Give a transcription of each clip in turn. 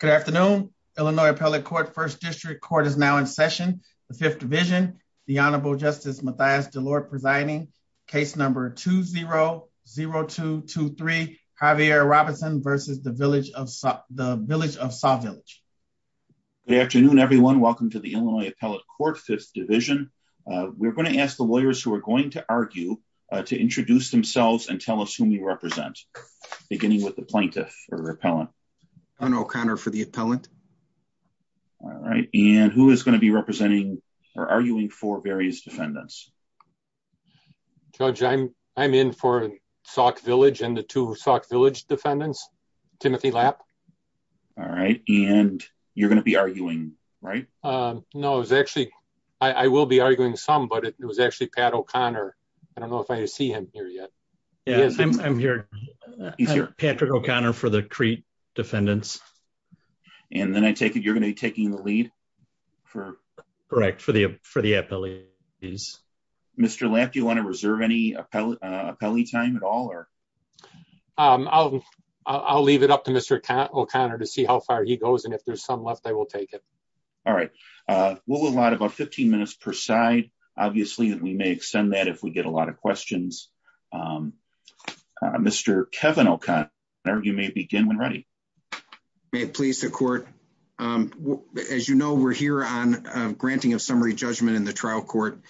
Good afternoon. Illinois Appellate Court First District Court is now in session. The Fifth Division, the Honorable Justice Mathias DeLorde presiding. Case number 2-0-0223, Javier Robinson versus the Village of Saw, the Village of Saw Village. Good afternoon everyone. Welcome to the Illinois Appellate Court Fifth Division. We're going to ask the lawyers who are going to argue to introduce themselves and tell us who we represent, beginning with the plaintiff or appellant. Pat O'Connor for the appellant. All right, and who is going to be representing or arguing for various defendants? Judge, I'm in for Sawk Village and the two Sawk Village defendants, Timothy Lapp. All right, and you're going to be arguing, right? No, it was actually, I will be arguing some, but it was actually Pat O'Connor. I don't know if I see him here yet. Yes, I'm here. Patrick O'Connor for the Crete defendants. And then I take it you're going to be taking the lead? Correct, for the appellees. Mr. Lapp, do you want to reserve any appellee time at all? I'll leave it up to Mr. O'Connor to see how far he goes and if there's some left, I will take it. All right, we'll allot about 15 minutes per side. Obviously, we may extend that if we get a lot of questions. Mr. Kevin O'Connor, you may begin when ready. May it please the court. As you know, we're here on granting of summary judgment in the trial court,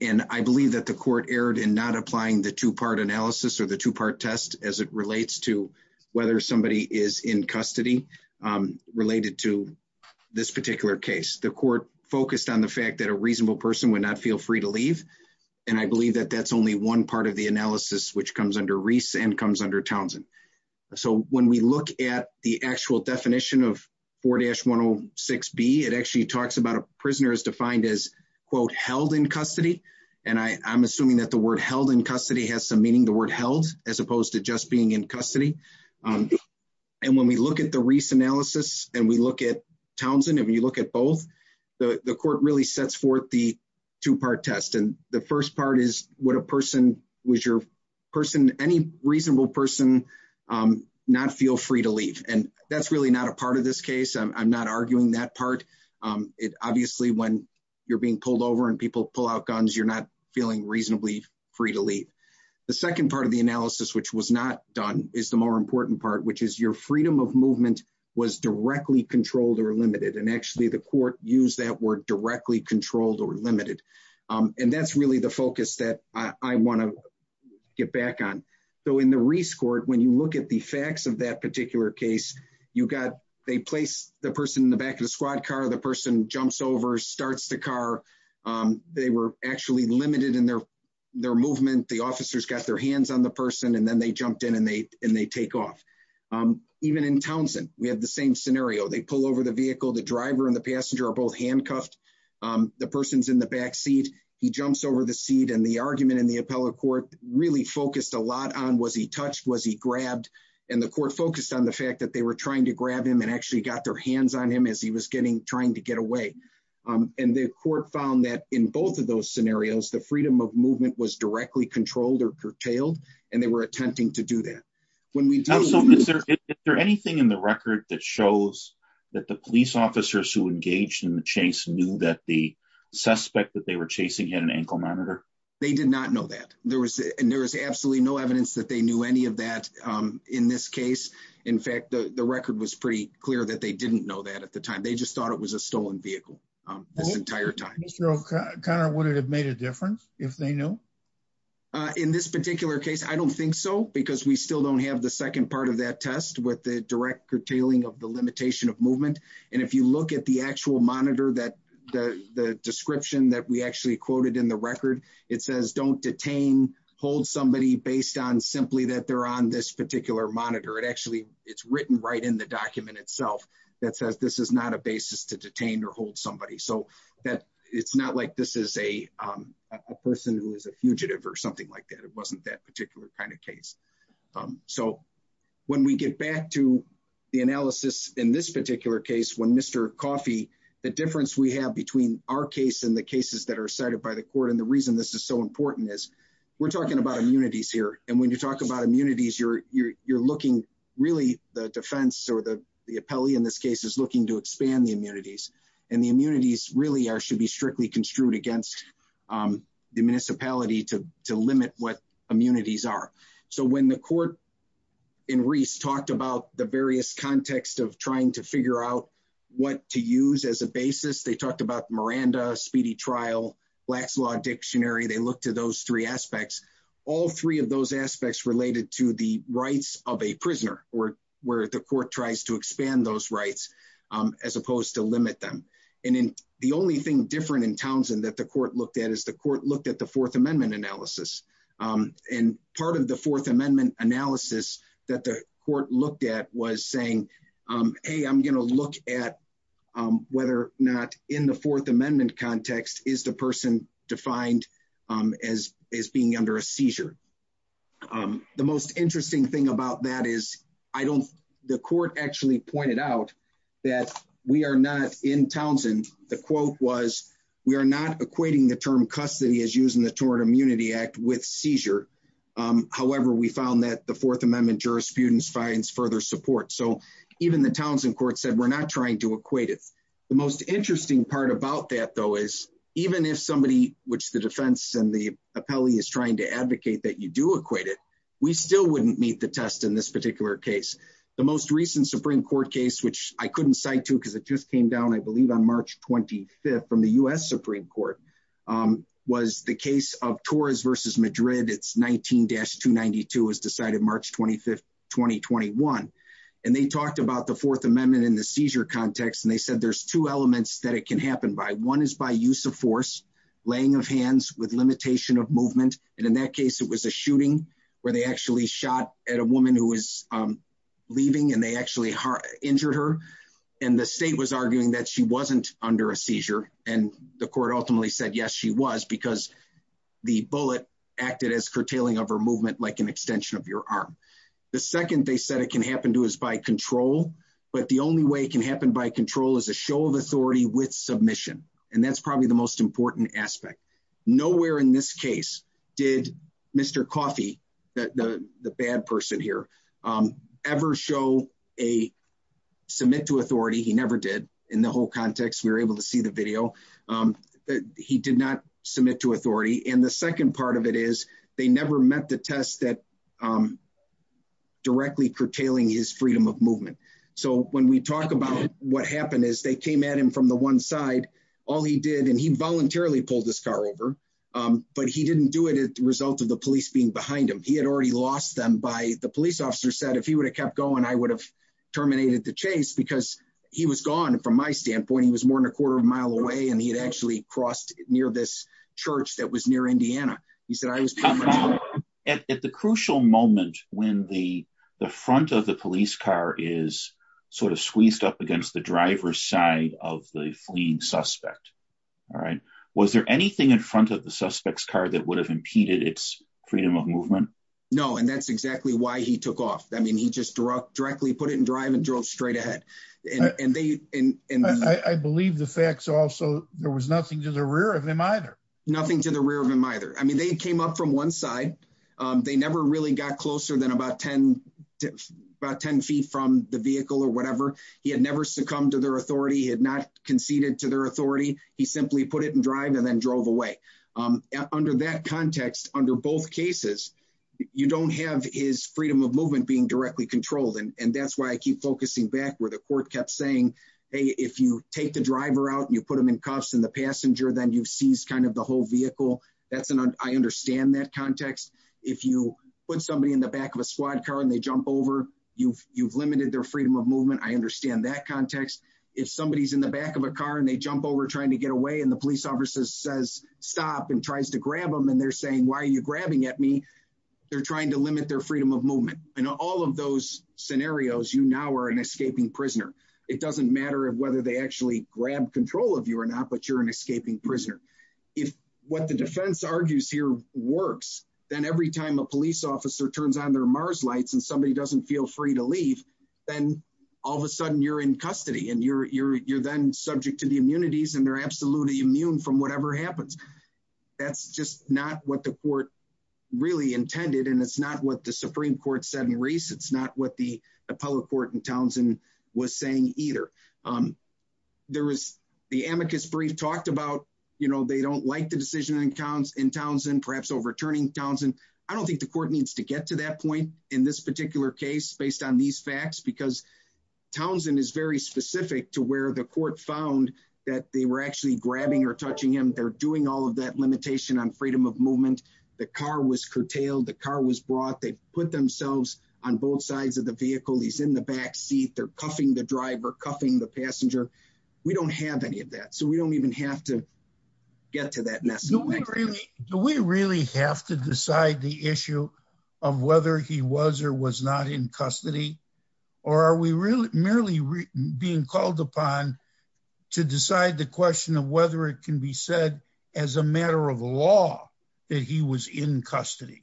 and I believe that the court erred in not applying the two-part analysis or the two-part test as it relates to whether somebody is in custody related to this particular case. The court focused on the fact that a reasonable person would not feel free to leave, and I believe that that's only one part of the analysis, which comes under Reese and comes under Townsend. So when we look at the actual definition of 4-106B, it actually talks about a prisoner is defined as, quote, held in custody. And I'm assuming that the word held in custody has some meaning, the word held, as opposed to just being in custody. And when we look at the Reese analysis and we look at Townsend, if you look at both, the court really sets forth the two-part test. The first part is, would a person, was your person, any reasonable person not feel free to leave? And that's really not a part of this case. I'm not arguing that part. Obviously, when you're being pulled over and people pull out guns, you're not feeling reasonably free to leave. The second part of the analysis, which was not done, is the more important part, which is your freedom of movement was directly controlled or limited. And actually, the court used that word directly controlled or limited. And that's really the focus that I want to get back on. So in the Reese court, when you look at the facts of that particular case, you got, they place the person in the back of the squad car, the person jumps over, starts the car. They were actually limited in their movement. The officers got their hands on the person, and then they jumped in and they take off. Even in Townsend, we have the same scenario. They pull over the vehicle, the driver and the passenger are both handcuffed. The person's in the back seat, he jumps over the seat. And the argument in the appellate court really focused a lot on was he touched, was he grabbed? And the court focused on the fact that they were trying to grab him and actually got their hands on him as he was getting, trying to get away. And the court found that in both of those scenarios, the freedom of movement was directly controlled or curtailed. And they were attempting to do that. So is there anything in the record that shows that the police officers who engaged in the chase knew that the suspect that they were chasing had an ankle monitor? They did not know that. And there was absolutely no evidence that they knew any of that in this case. In fact, the record was pretty clear that they didn't know that at the time. They just thought it was a stolen vehicle this entire time. Mr. O'Connor, would it have made a difference if they knew? In this particular case, I don't think so, because we still don't have the second part of that test with the direct curtailing of the limitation of movement. And if you look at the actual monitor, the description that we actually quoted in the record, it says, don't detain, hold somebody based on simply that they're on this particular monitor. It actually, it's written right in the document itself that says this is not a basis to detain or hold somebody. So it's not like this is a person who is a fugitive or something like that. It wasn't that particular kind of case. So when we get back to the analysis in this particular case, when Mr. Coffey, the difference we have between our case and the cases that are cited by the court, and the reason this is so important is, we're talking about immunities here. And when you talk about immunities, you're looking really the defense or the appellee in this case is looking to expand the immunities. And the immunities really should be strictly construed against the municipality to limit what immunities are. So when the court in Reese talked about the various context of trying to figure out what to use as a basis, they talked about Miranda, Speedy Trial, Black's Law Dictionary. They looked at those three aspects. All three of those aspects related to the rights of a prisoner or where the court tries to expand those rights as opposed to limit them. And the only thing different in Townsend that the court looked at is the court looked at the Fourth Amendment analysis. And part of the Fourth Amendment analysis that the court looked at was saying, hey, I'm going to look at whether or not in the Fourth Amendment context is the person defined as being under a seizure. The most interesting thing about that is, the court actually pointed out that we are not in Townsend. The quote was, we are not equating the term custody as using the Tort Immunity Act with seizure. However, we found that the Fourth Amendment jurisprudence finds further support. So even the Townsend court said, we're not trying to equate it. The most interesting part about that, though, is even if somebody, which the defense and the appellee is trying to advocate that you do equate it, we still wouldn't meet the test in this particular case. The most recent Supreme Court case, which I couldn't cite to because it just came down, I believe on March 25th from the U.S. Supreme Court, was the case of Torres versus Madrid. It's 19-292 as decided March 25th, 2021. And they talked about the Fourth Amendment in the seizure context. And they said there's two elements that it can happen by. One is by use of force, laying of hands with limitation of movement. And in that case, it was a shooting where they actually shot at a woman who was leaving and they actually injured her. And the state was arguing that she wasn't under a seizure. The court ultimately said, yes, she was because the bullet acted as curtailing of her movement, like an extension of your arm. The second they said it can happen to is by control. But the only way it can happen by control is a show of authority with submission. And that's probably the most important aspect. Nowhere in this case did Mr. Coffey, the bad person here, ever show a submit to authority. He never did. In the whole context, we were able to see the video. He did not submit to authority. And the second part of it is they never met the test that directly curtailing his freedom of movement. So when we talk about what happened is they came at him from the one side. All he did, and he voluntarily pulled his car over. But he didn't do it as a result of the police being behind him. He had already lost them by the police officer said, if he would have kept going, I would have terminated the chase because he was gone. And from my standpoint, he was more than a quarter of a mile away. And he had actually crossed near this church that was near Indiana. He said, I was at the crucial moment when the front of the police car is sort of squeezed up against the driver's side of the fleeing suspect. All right. Was there anything in front of the suspect's car that would have impeded its freedom of movement? No. And that's exactly why he took off. He just directly put it in drive and drove straight ahead. I believe the facts also there was nothing to the rear of him either. Nothing to the rear of him either. I mean, they came up from one side. They never really got closer than about 10 feet from the vehicle or whatever. He had never succumbed to their authority. He had not conceded to their authority. He simply put it in drive and then drove away. Under that context, under both cases, you don't have his freedom of movement being directly controlled. And that's why I keep focusing back where the court kept saying, hey, if you take the driver out and you put them in cuffs and the passenger, then you've seized kind of the whole vehicle. I understand that context. If you put somebody in the back of a squad car and they jump over, you've limited their freedom of movement. I understand that context. If somebody's in the back of a car and they jump over trying to get away and the police officer says stop and tries to grab them and they're saying, why are you grabbing at me? They're trying to limit their freedom of movement. And all of those scenarios, you now are an escaping prisoner. It doesn't matter whether they actually grab control of you or not, but you're an escaping prisoner. If what the defense argues here works, then every time a police officer turns on their Mars lights and somebody doesn't feel free to leave, then all of a sudden you're in custody and you're then subject to the immunities and they're absolutely immune from whatever happens. That's just not what the court really intended. And it's not what the Supreme Court said in Reese. It's not what the appellate court in Townsend was saying either. There was the amicus brief talked about, you know, they don't like the decision in Townsend, perhaps overturning Townsend. I don't think the court needs to get to that point in this particular case based on these facts, because Townsend is very specific to where the court found that they were actually grabbing or touching him. They're doing all of that limitation on freedom of movement. The car was curtailed. The car was brought. They put themselves on both sides of the vehicle. He's in the back seat. They're cuffing the driver, cuffing the passenger. We don't have any of that. So we don't even have to get to that. Do we really have to decide the issue of whether he was or was not in custody or are we really merely being called upon to decide the question of whether it can be said as a matter of law that he was in custody?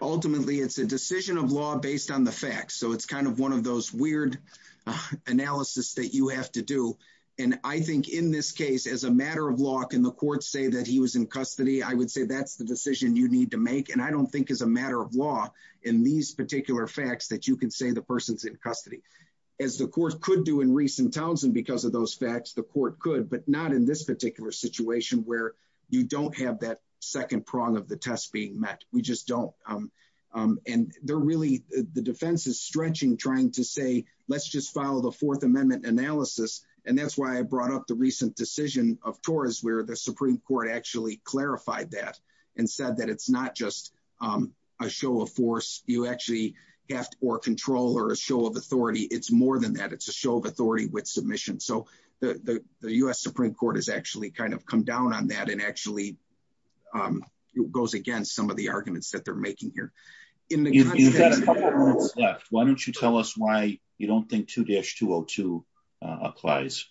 Ultimately, it's a decision of law based on the facts. So it's kind of one of those weird analysis that you have to do. And I think in this case, as a matter of law, can the court say that he was in custody? I would say that's the decision you need to make. And I don't think as a matter of law in these particular facts that you can say the person's in custody. As the court could do in recent Townsend because of those facts, the court could, but not in this particular situation where you don't have that second prong of the test being met. We just don't. And they're really, the defense is stretching, trying to say, let's just follow the Fourth Amendment analysis. And that's why I brought up the recent decision of Torres where the Supreme Court actually clarified that and said that it's not just a show of force. You actually have or control or a show of authority. It's more than that. It's a show of authority with submission. So the U.S. Supreme Court has actually kind of come down on that and actually goes against some of the arguments that they're making here. In the context- You've got a couple of minutes left. Why don't you tell us why you don't think 2-202 applies?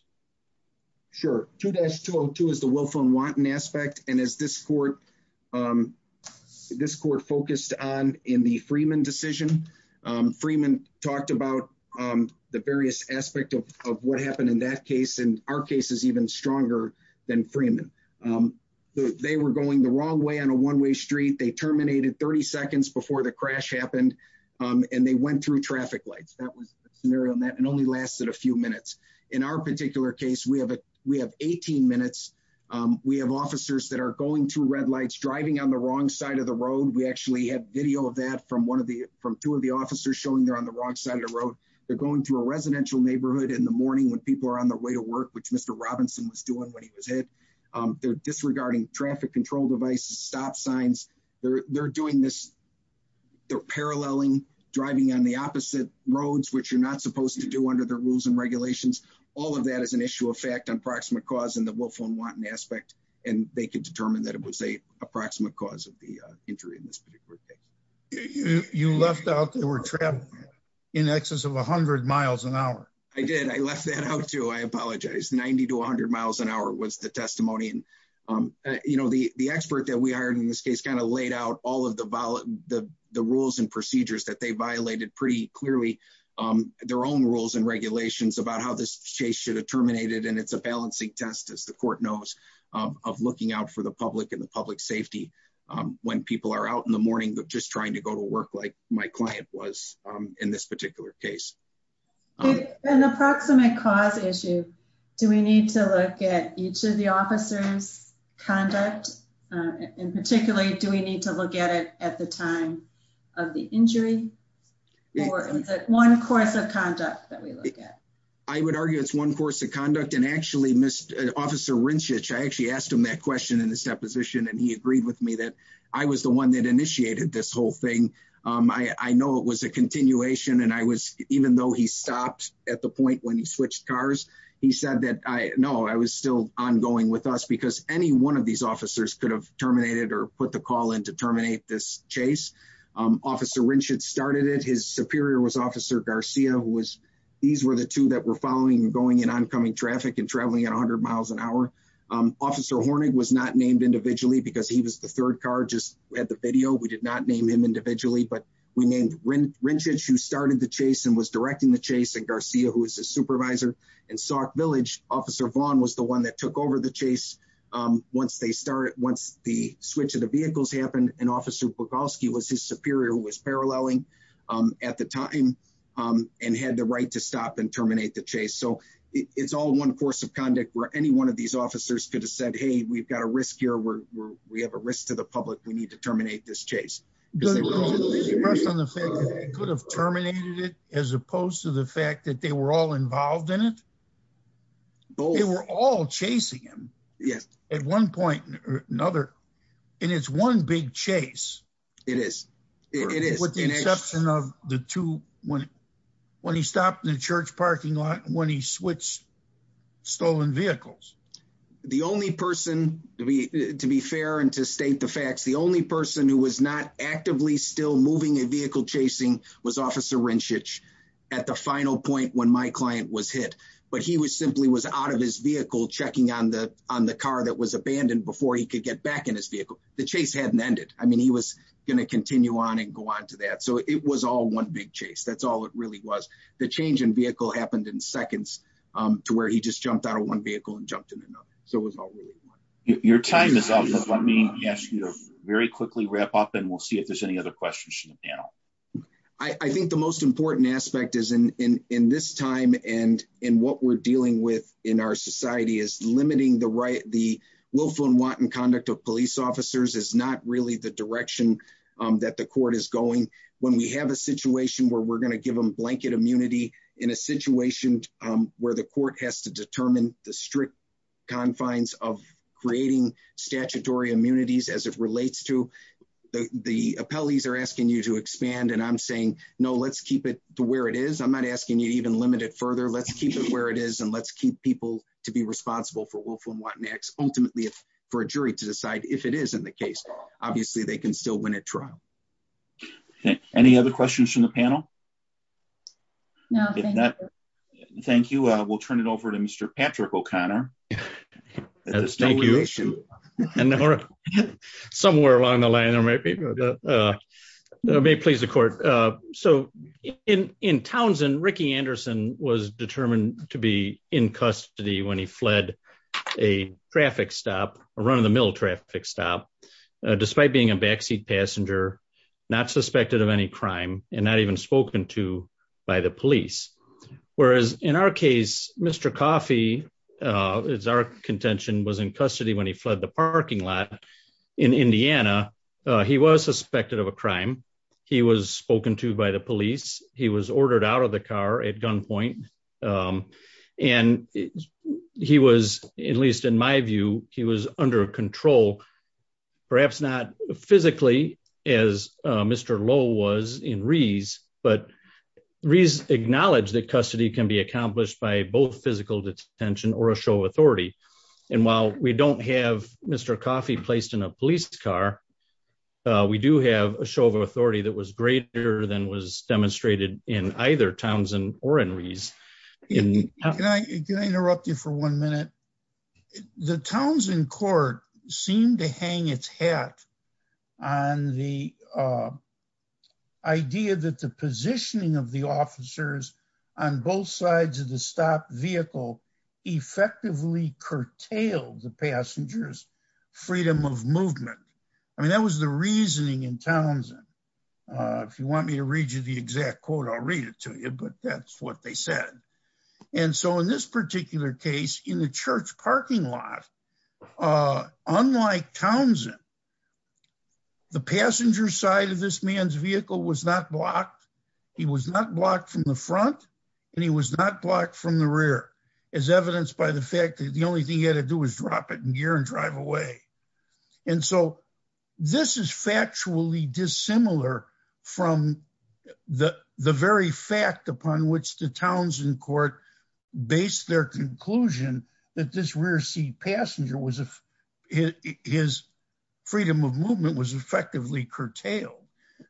Sure. 2-202 is the willful and wanton aspect. And as this court focused on in the Freeman decision, Freeman talked about the various aspect of what happened in that case. And our case is even stronger than Freeman. They were going the wrong way on a one-way street. They terminated 30 seconds before the crash happened. And they went through traffic lights. That was a scenario that only lasted a few minutes. In our particular case, we have 18 minutes. We have officers that are going through red lights, driving on the wrong side of the road. We actually have video of that from two of the officers showing they're on the wrong side of the road. They're going through a residential neighborhood in the morning when people are on their way to work, which Mr. Robinson was doing when he was hit. They're disregarding traffic control devices, stop signs. They're doing this. They're paralleling, driving on the opposite roads, which you're not supposed to do under the rules and regulations. All of that is an issue of fact, an approximate cause in the willful and wanton aspect. And they could determine that it was a approximate cause of the injury in this particular case. You left out they were trapped in excess of 100 miles an hour. I did. I left that out too. I apologize. 90 to 100 miles an hour was the testimony. And the expert that we hired in this case kind of laid out all of the rules and procedures that they violated pretty clearly. Their own rules and regulations about how this chase should have terminated. And it's a balancing test as the court knows of looking out for the public and the public safety. When people are out in the morning, they're just trying to go to work like my client was in this particular case. An approximate cause issue. Do we need to look at each of the officer's conduct? And particularly, do we need to look at it at the time of the injury? Or is it one course of conduct that we look at? I would argue it's one course of conduct. And actually, officer Rinschich, I actually asked him that question in this deposition and he agreed with me that I was the one that initiated this whole thing. I know it was a continuation. And even though he stopped at the point when he switched cars, he said that, no, I was still ongoing with us because any one of these officers could have terminated or put the call in to terminate this chase. Officer Rinschich started it. His superior was officer Garcia. These were the two that were following and going in oncoming traffic and traveling at 100 miles an hour. Officer Hornig was not named individually because he was the third car, just had the video. We did not name him individually, but we named Rinschich who started the chase and was directing the chase and Garcia who was his supervisor. In Sauk Village, officer Vaughn was the one that took over the chase. Once they started, once the switch of the vehicles happened and officer Bogalski was his superior who was paralleling at the time and had the right to stop and terminate the chase. So it's all one course of conduct where any one of these officers could have said, hey, we've got a risk here. We have a risk to the public. We need to terminate this chase. Because they could have terminated it as opposed to the fact that they were all involved in it. They were all chasing him. Yes. At one point or another. And it's one big chase. It is, it is. With the exception of the two, when he stopped in the church parking lot, when he switched stolen vehicles. The only person to be fair and to state the facts, the only person who was not actively still moving a vehicle chasing was officer Rinchich at the final point when my client was hit. But he was simply was out of his vehicle checking on the car that was abandoned before he could get back in his vehicle. The chase hadn't ended. I mean, he was going to continue on and go on to that. So it was all one big chase. That's all it really was. The change in vehicle happened in seconds to where he just jumped out of one vehicle and jumped in another. So it was all really one. Your time is up. Let me ask you to very quickly wrap up and we'll see if there's any other questions from the panel. I think the most important aspect is in this time and in what we're dealing with in our society is limiting the right, the willful and wanton conduct of police officers is not really the direction that the court is going. When we have a situation where we're going to give them blanket immunity in a situation where the court has to determine the strict confines of creating statutory immunities as it relates to the appellees are asking you to expand. And I'm saying, no, let's keep it to where it is. I'm not asking you to even limit it further. Let's keep it where it is. And let's keep people to be responsible for willful and wanton acts. Ultimately for a jury to decide if it is in the case, obviously they can still win a trial. Any other questions from the panel? Thank you. We'll turn it over to Mr. Patrick O'Connor. Somewhere along the line, may please the court. So in Townsend, Ricky Anderson was determined to be in custody when he fled a traffic stop, a run of the mill traffic stop, despite being a backseat passenger, not suspected of any crime and not even spoken to by the police. Whereas in our case, Mr. Coffey is our contention was in custody when he fled the parking lot in Indiana. He was suspected of a crime. He was spoken to by the police. He was ordered out of the car at gunpoint. And he was, at least in my view, he was under control, perhaps not physically as Mr. Lowe was in Reese, but Reese acknowledged that custody can be accomplished by both physical detention or a show of authority. And while we don't have Mr. Coffey placed in a police car, we do have a show of authority that was greater than was demonstrated in either Townsend or in Reese. Can I interrupt you for one minute? The Townsend court seemed to hang its hat on the idea that the positioning of the officers on both sides of the stop vehicle effectively curtailed the passengers freedom of movement. I mean, that was the reasoning in Townsend. If you want me to read you the exact quote, I'll read it to you, but that's what they said. And so in this particular case, in the church parking lot, unlike Townsend, the passenger side of this man's vehicle was not blocked. He was not blocked from the front and he was not blocked from the rear as evidenced by the fact that the only thing he had to do was drop it in gear and drive away. And so this is factually dissimilar from the very fact upon which the Townsend court based their conclusion that this rear seat passenger his freedom of movement was effectively curtailed.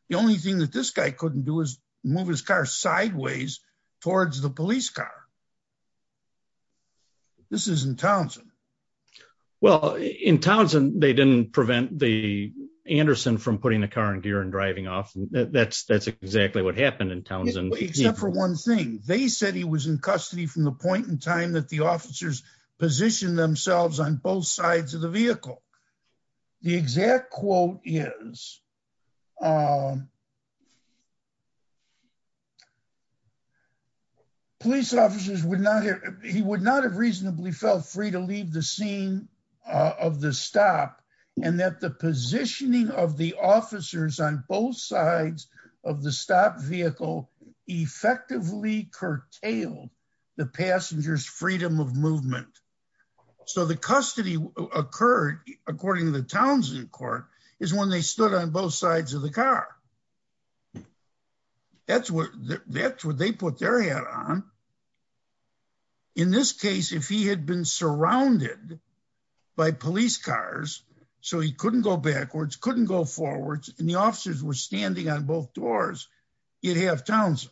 The only thing that this guy couldn't do is move his car sideways towards the police car. This is in Townsend. Well, in Townsend, they didn't prevent the Anderson from putting the car in gear and driving off. That's exactly what happened in Townsend. Except for one thing. They said he was in custody from the point in time that the officers positioned themselves on both sides of the vehicle. The exact quote is, police officers would not have, he would not have reasonably felt free to leave the scene of the stop and that the positioning of the officers on both sides of the stop vehicle effectively curtailed the passenger's freedom of movement. So the custody occurred according to the Townsend court is when they stood on both sides of the car. That's what they put their head on. In this case, if he had been surrounded by police cars so he couldn't go backwards, couldn't go forwards and the officers were standing on both doors you'd have Townsend.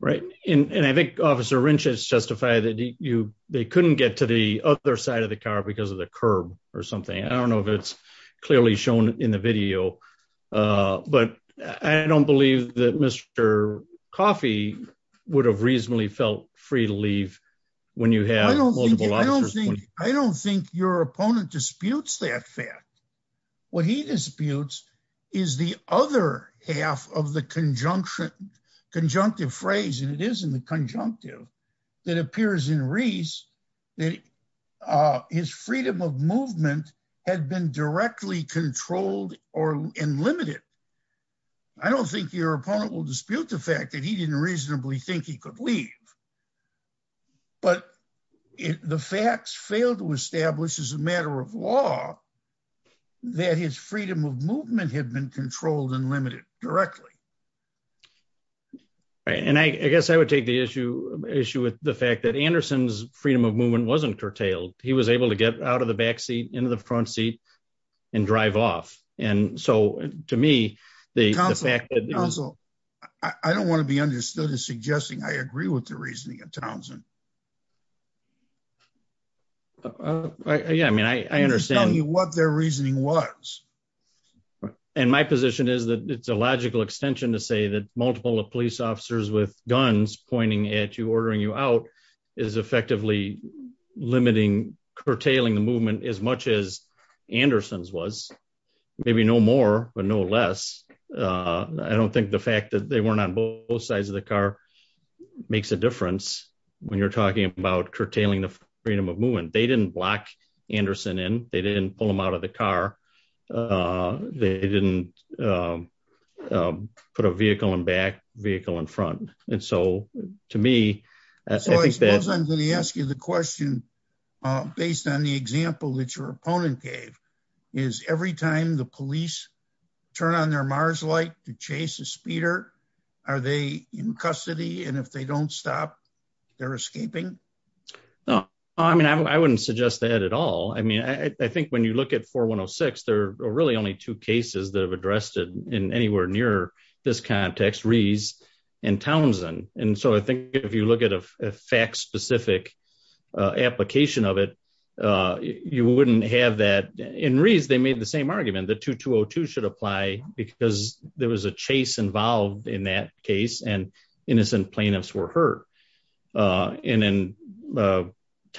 Right. And I think officer Wrench has justified they couldn't get to the other side of the car because of the curb or something. I don't know if it's clearly shown in the video but I don't believe that Mr. Coffey would have reasonably felt free to leave when you had multiple officers. I don't think your opponent disputes that fact. What he disputes is the other half of the conjunctive phrase and it is in the conjunctive that appears in Reese that his freedom of movement had been directly controlled and limited. I don't think your opponent will dispute the fact that he didn't reasonably think he could leave but the facts failed to establish as a matter of law that his freedom of movement had been controlled and limited directly. Right. And I guess I would take the issue with the fact that Anderson's freedom of movement wasn't curtailed. He was able to get out of the back seat into the front seat and drive off. And so to me, the fact that- Counsel, I don't want to be understood as suggesting I agree with the reasoning of Townsend. Yeah, I mean, I understand- And my position is that it's a logical extension to say that multiple of police officers with guns pointing at you, ordering you out is effectively limiting, curtailing the movement as much as Anderson's was. Maybe no more, but no less. I don't think the fact that they weren't on both sides of the car makes a difference when you're talking about curtailing the freedom of movement. They didn't block Anderson in. They didn't pull him out of the car. They didn't put a vehicle in back, vehicle in front. And so to me, I think that- So I suppose I'm going to ask you the question based on the example that your opponent gave, is every time the police turn on their MARS light to chase a speeder, are they in custody? And if they don't stop, they're escaping? No, I mean, I wouldn't suggest that at all. I mean, I think when you look at 4106, there are really only two cases that have addressed it in anywhere near this context, Rees and Townsend. And so I think if you look at a fact-specific application of it, you wouldn't have that. In Rees, they made the same argument. The 2202 should apply because there was a chase involved in that case and innocent plaintiffs were hurt. And in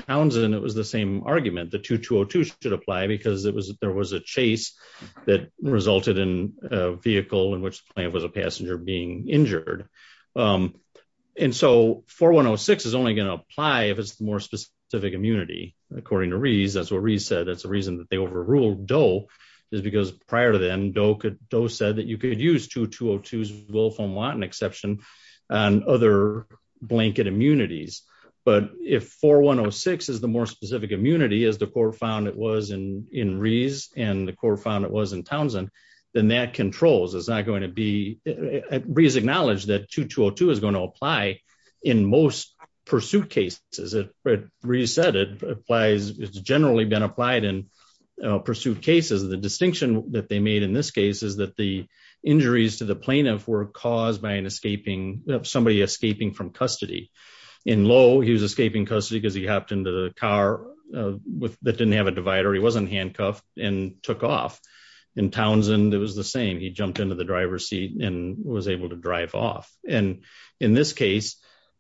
Townsend, it was the same argument. The 2202 should apply because there was a chase that resulted in a vehicle in which the plaintiff was a passenger being injured. And so 4106 is only going to apply if it's the more specific immunity. According to Rees, that's what Rees said. That's the reason that they overruled Doe is because prior to then, Doe said that you could use 2202's Wilfram Watton exception and other blanket immunities. But if 4106 is the more specific immunity as the court found it was in Rees and the court found it was in Townsend, then that controls, it's not going to be... Rees acknowledged that 2202 is going to apply in most pursuit cases. As Rees said, it's generally been applied in pursuit cases. The distinction that they made in this case is that the injuries to the plaintiff were caused by somebody escaping from custody. In Lowe, he was escaping custody because he hopped into the car that didn't have a divider. He wasn't handcuffed and took off. In Townsend, it was the same. He jumped into the driver's seat and was able to drive off. And in this case,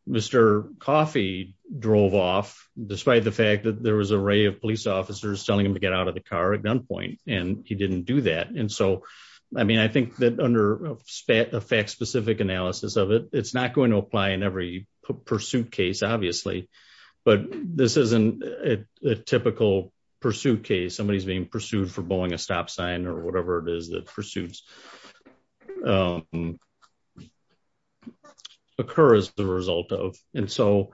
Mr. Coffey drove off despite the fact that there was array of police officers telling him to get out of the car at gunpoint and he didn't do that. And so, I mean, I think that under a fact-specific analysis of it, it's not going to apply in every pursuit case, obviously. But this isn't a typical pursuit case. Somebody is being pursued for bowing a stop sign or whatever it is that pursuits occur as the result of. And so,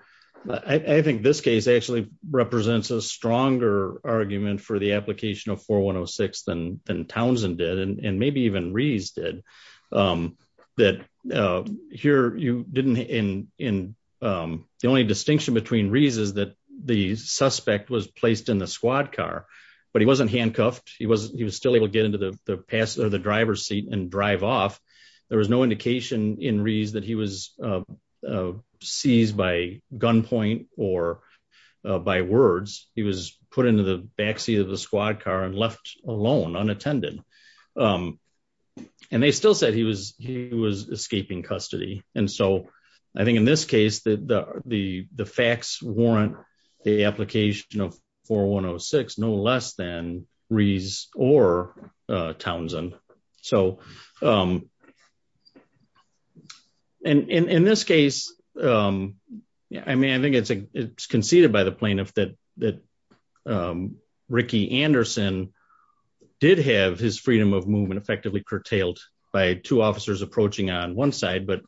I think this case actually represents a stronger argument for the application of 4106 than Townsend did and maybe even Rees did. That here, you didn't... The only distinction between Rees is that the suspect was placed in the squad car, but he wasn't handcuffed. He was still able to get into the driver's seat and drive off. There was no indication in Rees that he was seized by gunpoint or by words. He was put into the backseat of the squad car and left alone, unattended. And they still said he was escaping custody. And so, I think in this case, the facts warrant the application of 4106 no less than Rees or Townsend. And in this case, I mean, I think it's conceded by the plaintiff that Ricky Anderson did have his freedom of movement effectively curtailed by two officers approaching on one side, but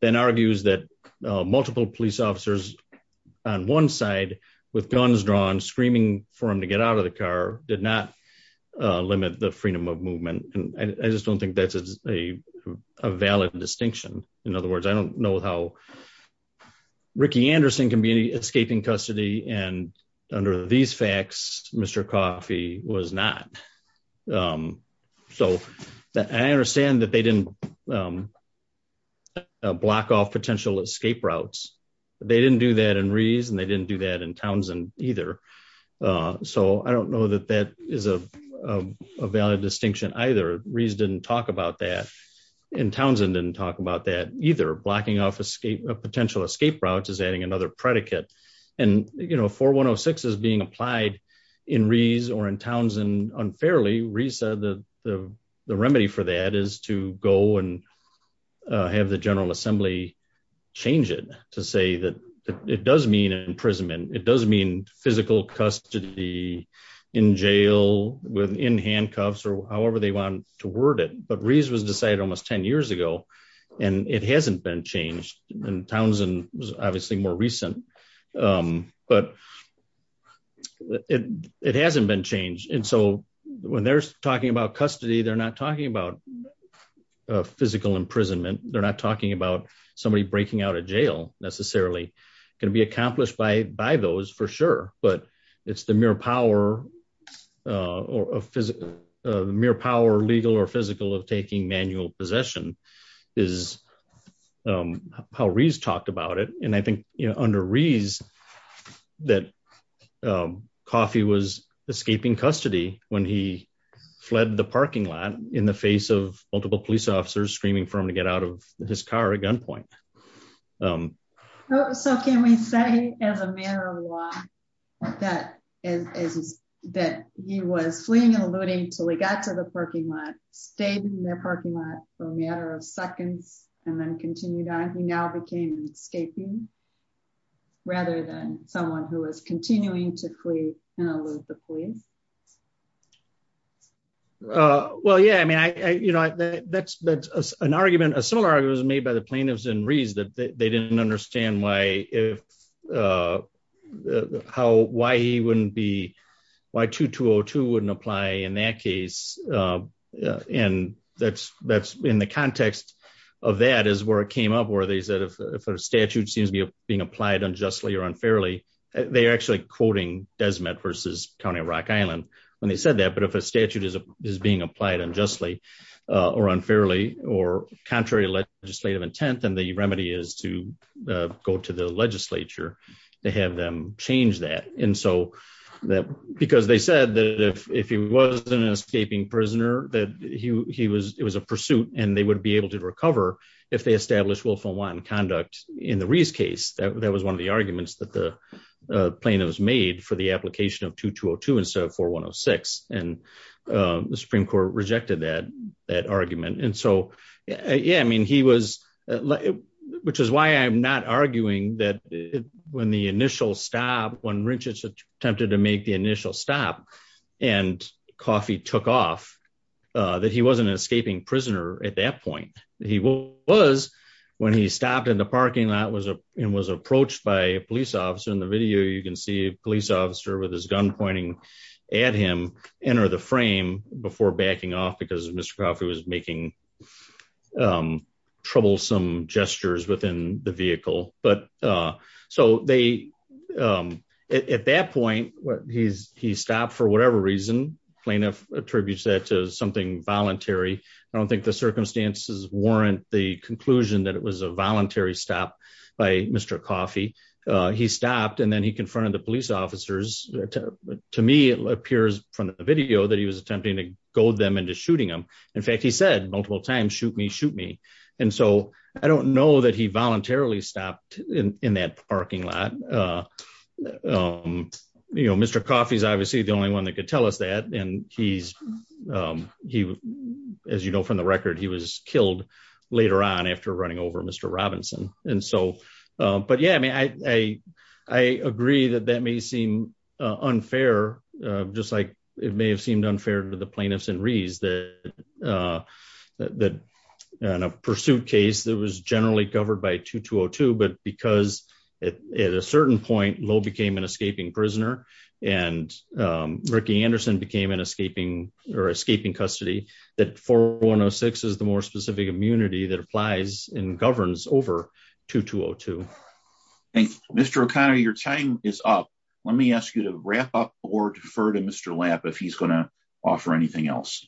then argues that multiple police officers on one side with guns drawn, screaming for him to get out of the car did not limit the freedom of movement. And I just don't think that's a valid distinction. In other words, I don't know how Ricky Anderson can be escaping custody. And under these facts, Mr. Coffey was not. So, I understand that they didn't block off potential escape routes. They didn't do that in Rees and they didn't do that in Townsend either. So, I don't know that that is a valid distinction either. Rees didn't talk about that and Townsend didn't talk about that either. Blocking off a potential escape route is adding another predicate. And 4106 is being applied in Rees or in Townsend unfairly, Rees said that the remedy for that is to go and have the General Assembly change it to say that it does mean imprisonment. It does mean physical custody in jail within handcuffs or however they want to word it. But Rees was decided almost 10 years ago and it hasn't been changed. And Townsend was obviously more recent, but it hasn't been changed. And so, when they're talking about custody, they're not talking about physical imprisonment. They're not talking about somebody breaking out of jail necessarily. It can be accomplished by those for sure, but it's the mere power legal or physical of taking manual possession is how Rees talked about it. And I think under Rees that Coffey was escaping custody when he fled the parking lot in the face of multiple police officers screaming for him to get out of his car at gunpoint. So can we say as a matter of law that he was fleeing and eluding till he got to the parking lot, stayed in their parking lot for a matter of seconds and then continued on. He now became an escaping rather than someone who was continuing to flee and elude the police? Well, yeah, I mean, that's an argument, a similar argument was made by the plaintiffs in Rees that they didn't understand why he wouldn't be, why 2202 wouldn't apply in that case. And that's in the context of that is where it came up that if a statute seems to be being applied unjustly or unfairly, they actually quoting Desmet versus County of Rock Island when they said that, but if a statute is being applied unjustly or unfairly or contrary legislative intent, then the remedy is to go to the legislature to have them change that. And so that, because they said that if he wasn't an escaping prisoner, that it was a pursuit and they would be able to recover if they established willful and wanton conduct in the Rees case. That was one of the arguments that the plaintiff was made for the application of 2202 instead of 4106. And the Supreme Court rejected that argument. And so, yeah, I mean, he was, which is why I'm not arguing that when the initial stop, when Richards attempted to make the initial stop and Coffey took off, that he wasn't an escaping prisoner at that point. He was when he stopped in the parking lot and was approached by a police officer. In the video, you can see a police officer with his gun pointing at him, enter the frame before backing off because Mr. Coffey was making troublesome gestures within the vehicle. But so they, at that point, he stopped for whatever reason, plaintiff attributes that to something voluntary. I don't think the circumstances warrant the conclusion that it was a voluntary stop by Mr. Coffey. He stopped and then he confronted the police officers. To me, it appears from the video that he was attempting to goad them into shooting him. In fact, he said multiple times, shoot me, shoot me. And so I don't know that he voluntarily stopped in that parking lot. Mr. Coffey is obviously the only one that could tell us that. And he's, as you know from the record, he was killed later on after running over Mr. Robinson. And so, but yeah, I mean, I agree that that may seem unfair, just like it may have seemed unfair to the plaintiffs and Rees that in a pursuit case that was generally covered by 2202, but because at a certain point, Lowe became an escaping prisoner and Ricky Anderson became an escaping or escaping custody that 4106 is the more specific immunity that applies and governs over 2202. Thanks. Mr. O'Connor, your time is up. Let me ask you to wrap up or defer to Mr. Lapp if he's gonna offer anything else.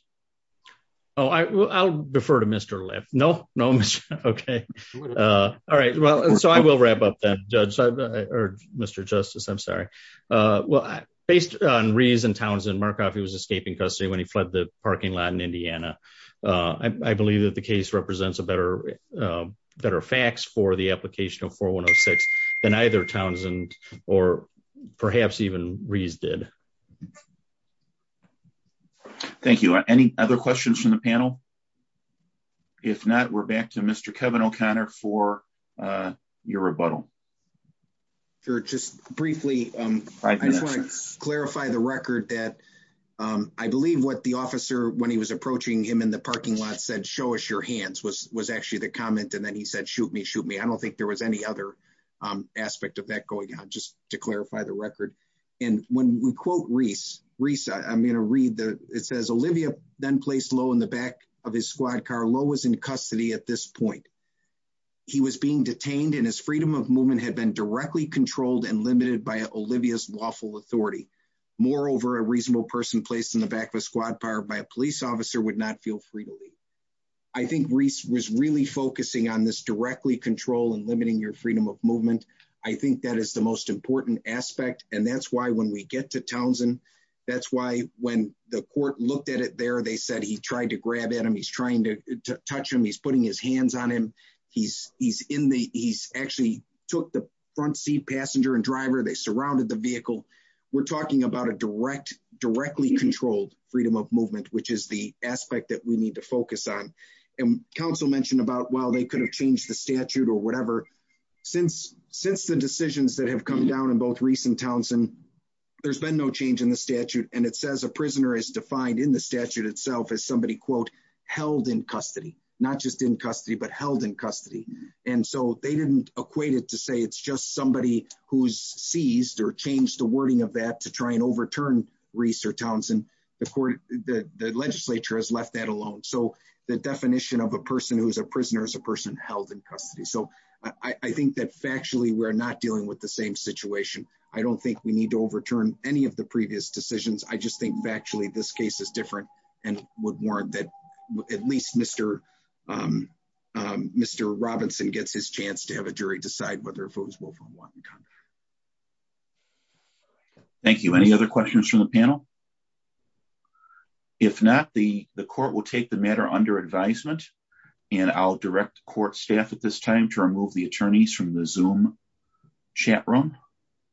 Oh, I'll defer to Mr. Lapp. No, no, okay. All right. So I will wrap up then judge or Mr. Justice, I'm sorry. Well, based on Rees and Townsend, Markoff was escaping custody when he fled the parking lot in Indiana. I believe that the case represents a better facts for the application of 4106 than either Townsend or perhaps even Rees did. Thank you. Any other questions from the panel? If not, we're back to Mr. Kevin O'Connor for your rebuttal. Sure, just briefly, I just wanna clarify the record that I believe what the officer when he was approaching him in the parking lot said, show us your hands was actually the comment. And then he said, shoot me, shoot me. I don't think there was any other aspect of that going on just to clarify the record. And when we quote Rees, I'm gonna read the, it says, Olivia then placed Lowe in the back of his squad car. Lowe was in custody at this point. He was being detained and his freedom of movement had been directly controlled and limited by Olivia's lawful authority. Moreover, a reasonable person placed in the back of a squad car by a police officer would not feel free to leave. I think Rees was really focusing on this directly control and limiting your freedom of movement. I think that is the most important aspect. And that's why when we get to Townsend, that's why when the court looked at it there, they said he tried to grab at him. He's trying to touch him. He's putting his hands on him. He's actually took the front seat passenger and driver. They surrounded the vehicle. We're talking about a directly controlled freedom of movement, which is the aspect that we need to focus on. And counsel mentioned about, well, they could have changed the statute or whatever. Since the decisions that have come down in both Rees and Townsend, there's been no change in the statute. And it says a prisoner is defined in the statute itself as somebody quote, held in custody, not just in custody, but held in custody. And so they didn't equate it to say, it's just somebody who's seized or changed the wording of that to try and overturn Rees or Townsend. The court, the legislature has left that alone. So the definition of a person who's a prisoner is a person held in custody. So I think that factually, we're not dealing with the same situation. I don't think we need to overturn any of the previous decisions. I just think factually this case is different and would warrant that at least Mr. Robinson gets his chance to have a jury decide whether if it was Wolfram Watt and Conner. Thank you. Any other questions from the panel? If not, the court will take the matter under advisement and I'll direct court staff at this time to remove the attorneys from the Zoom chat room.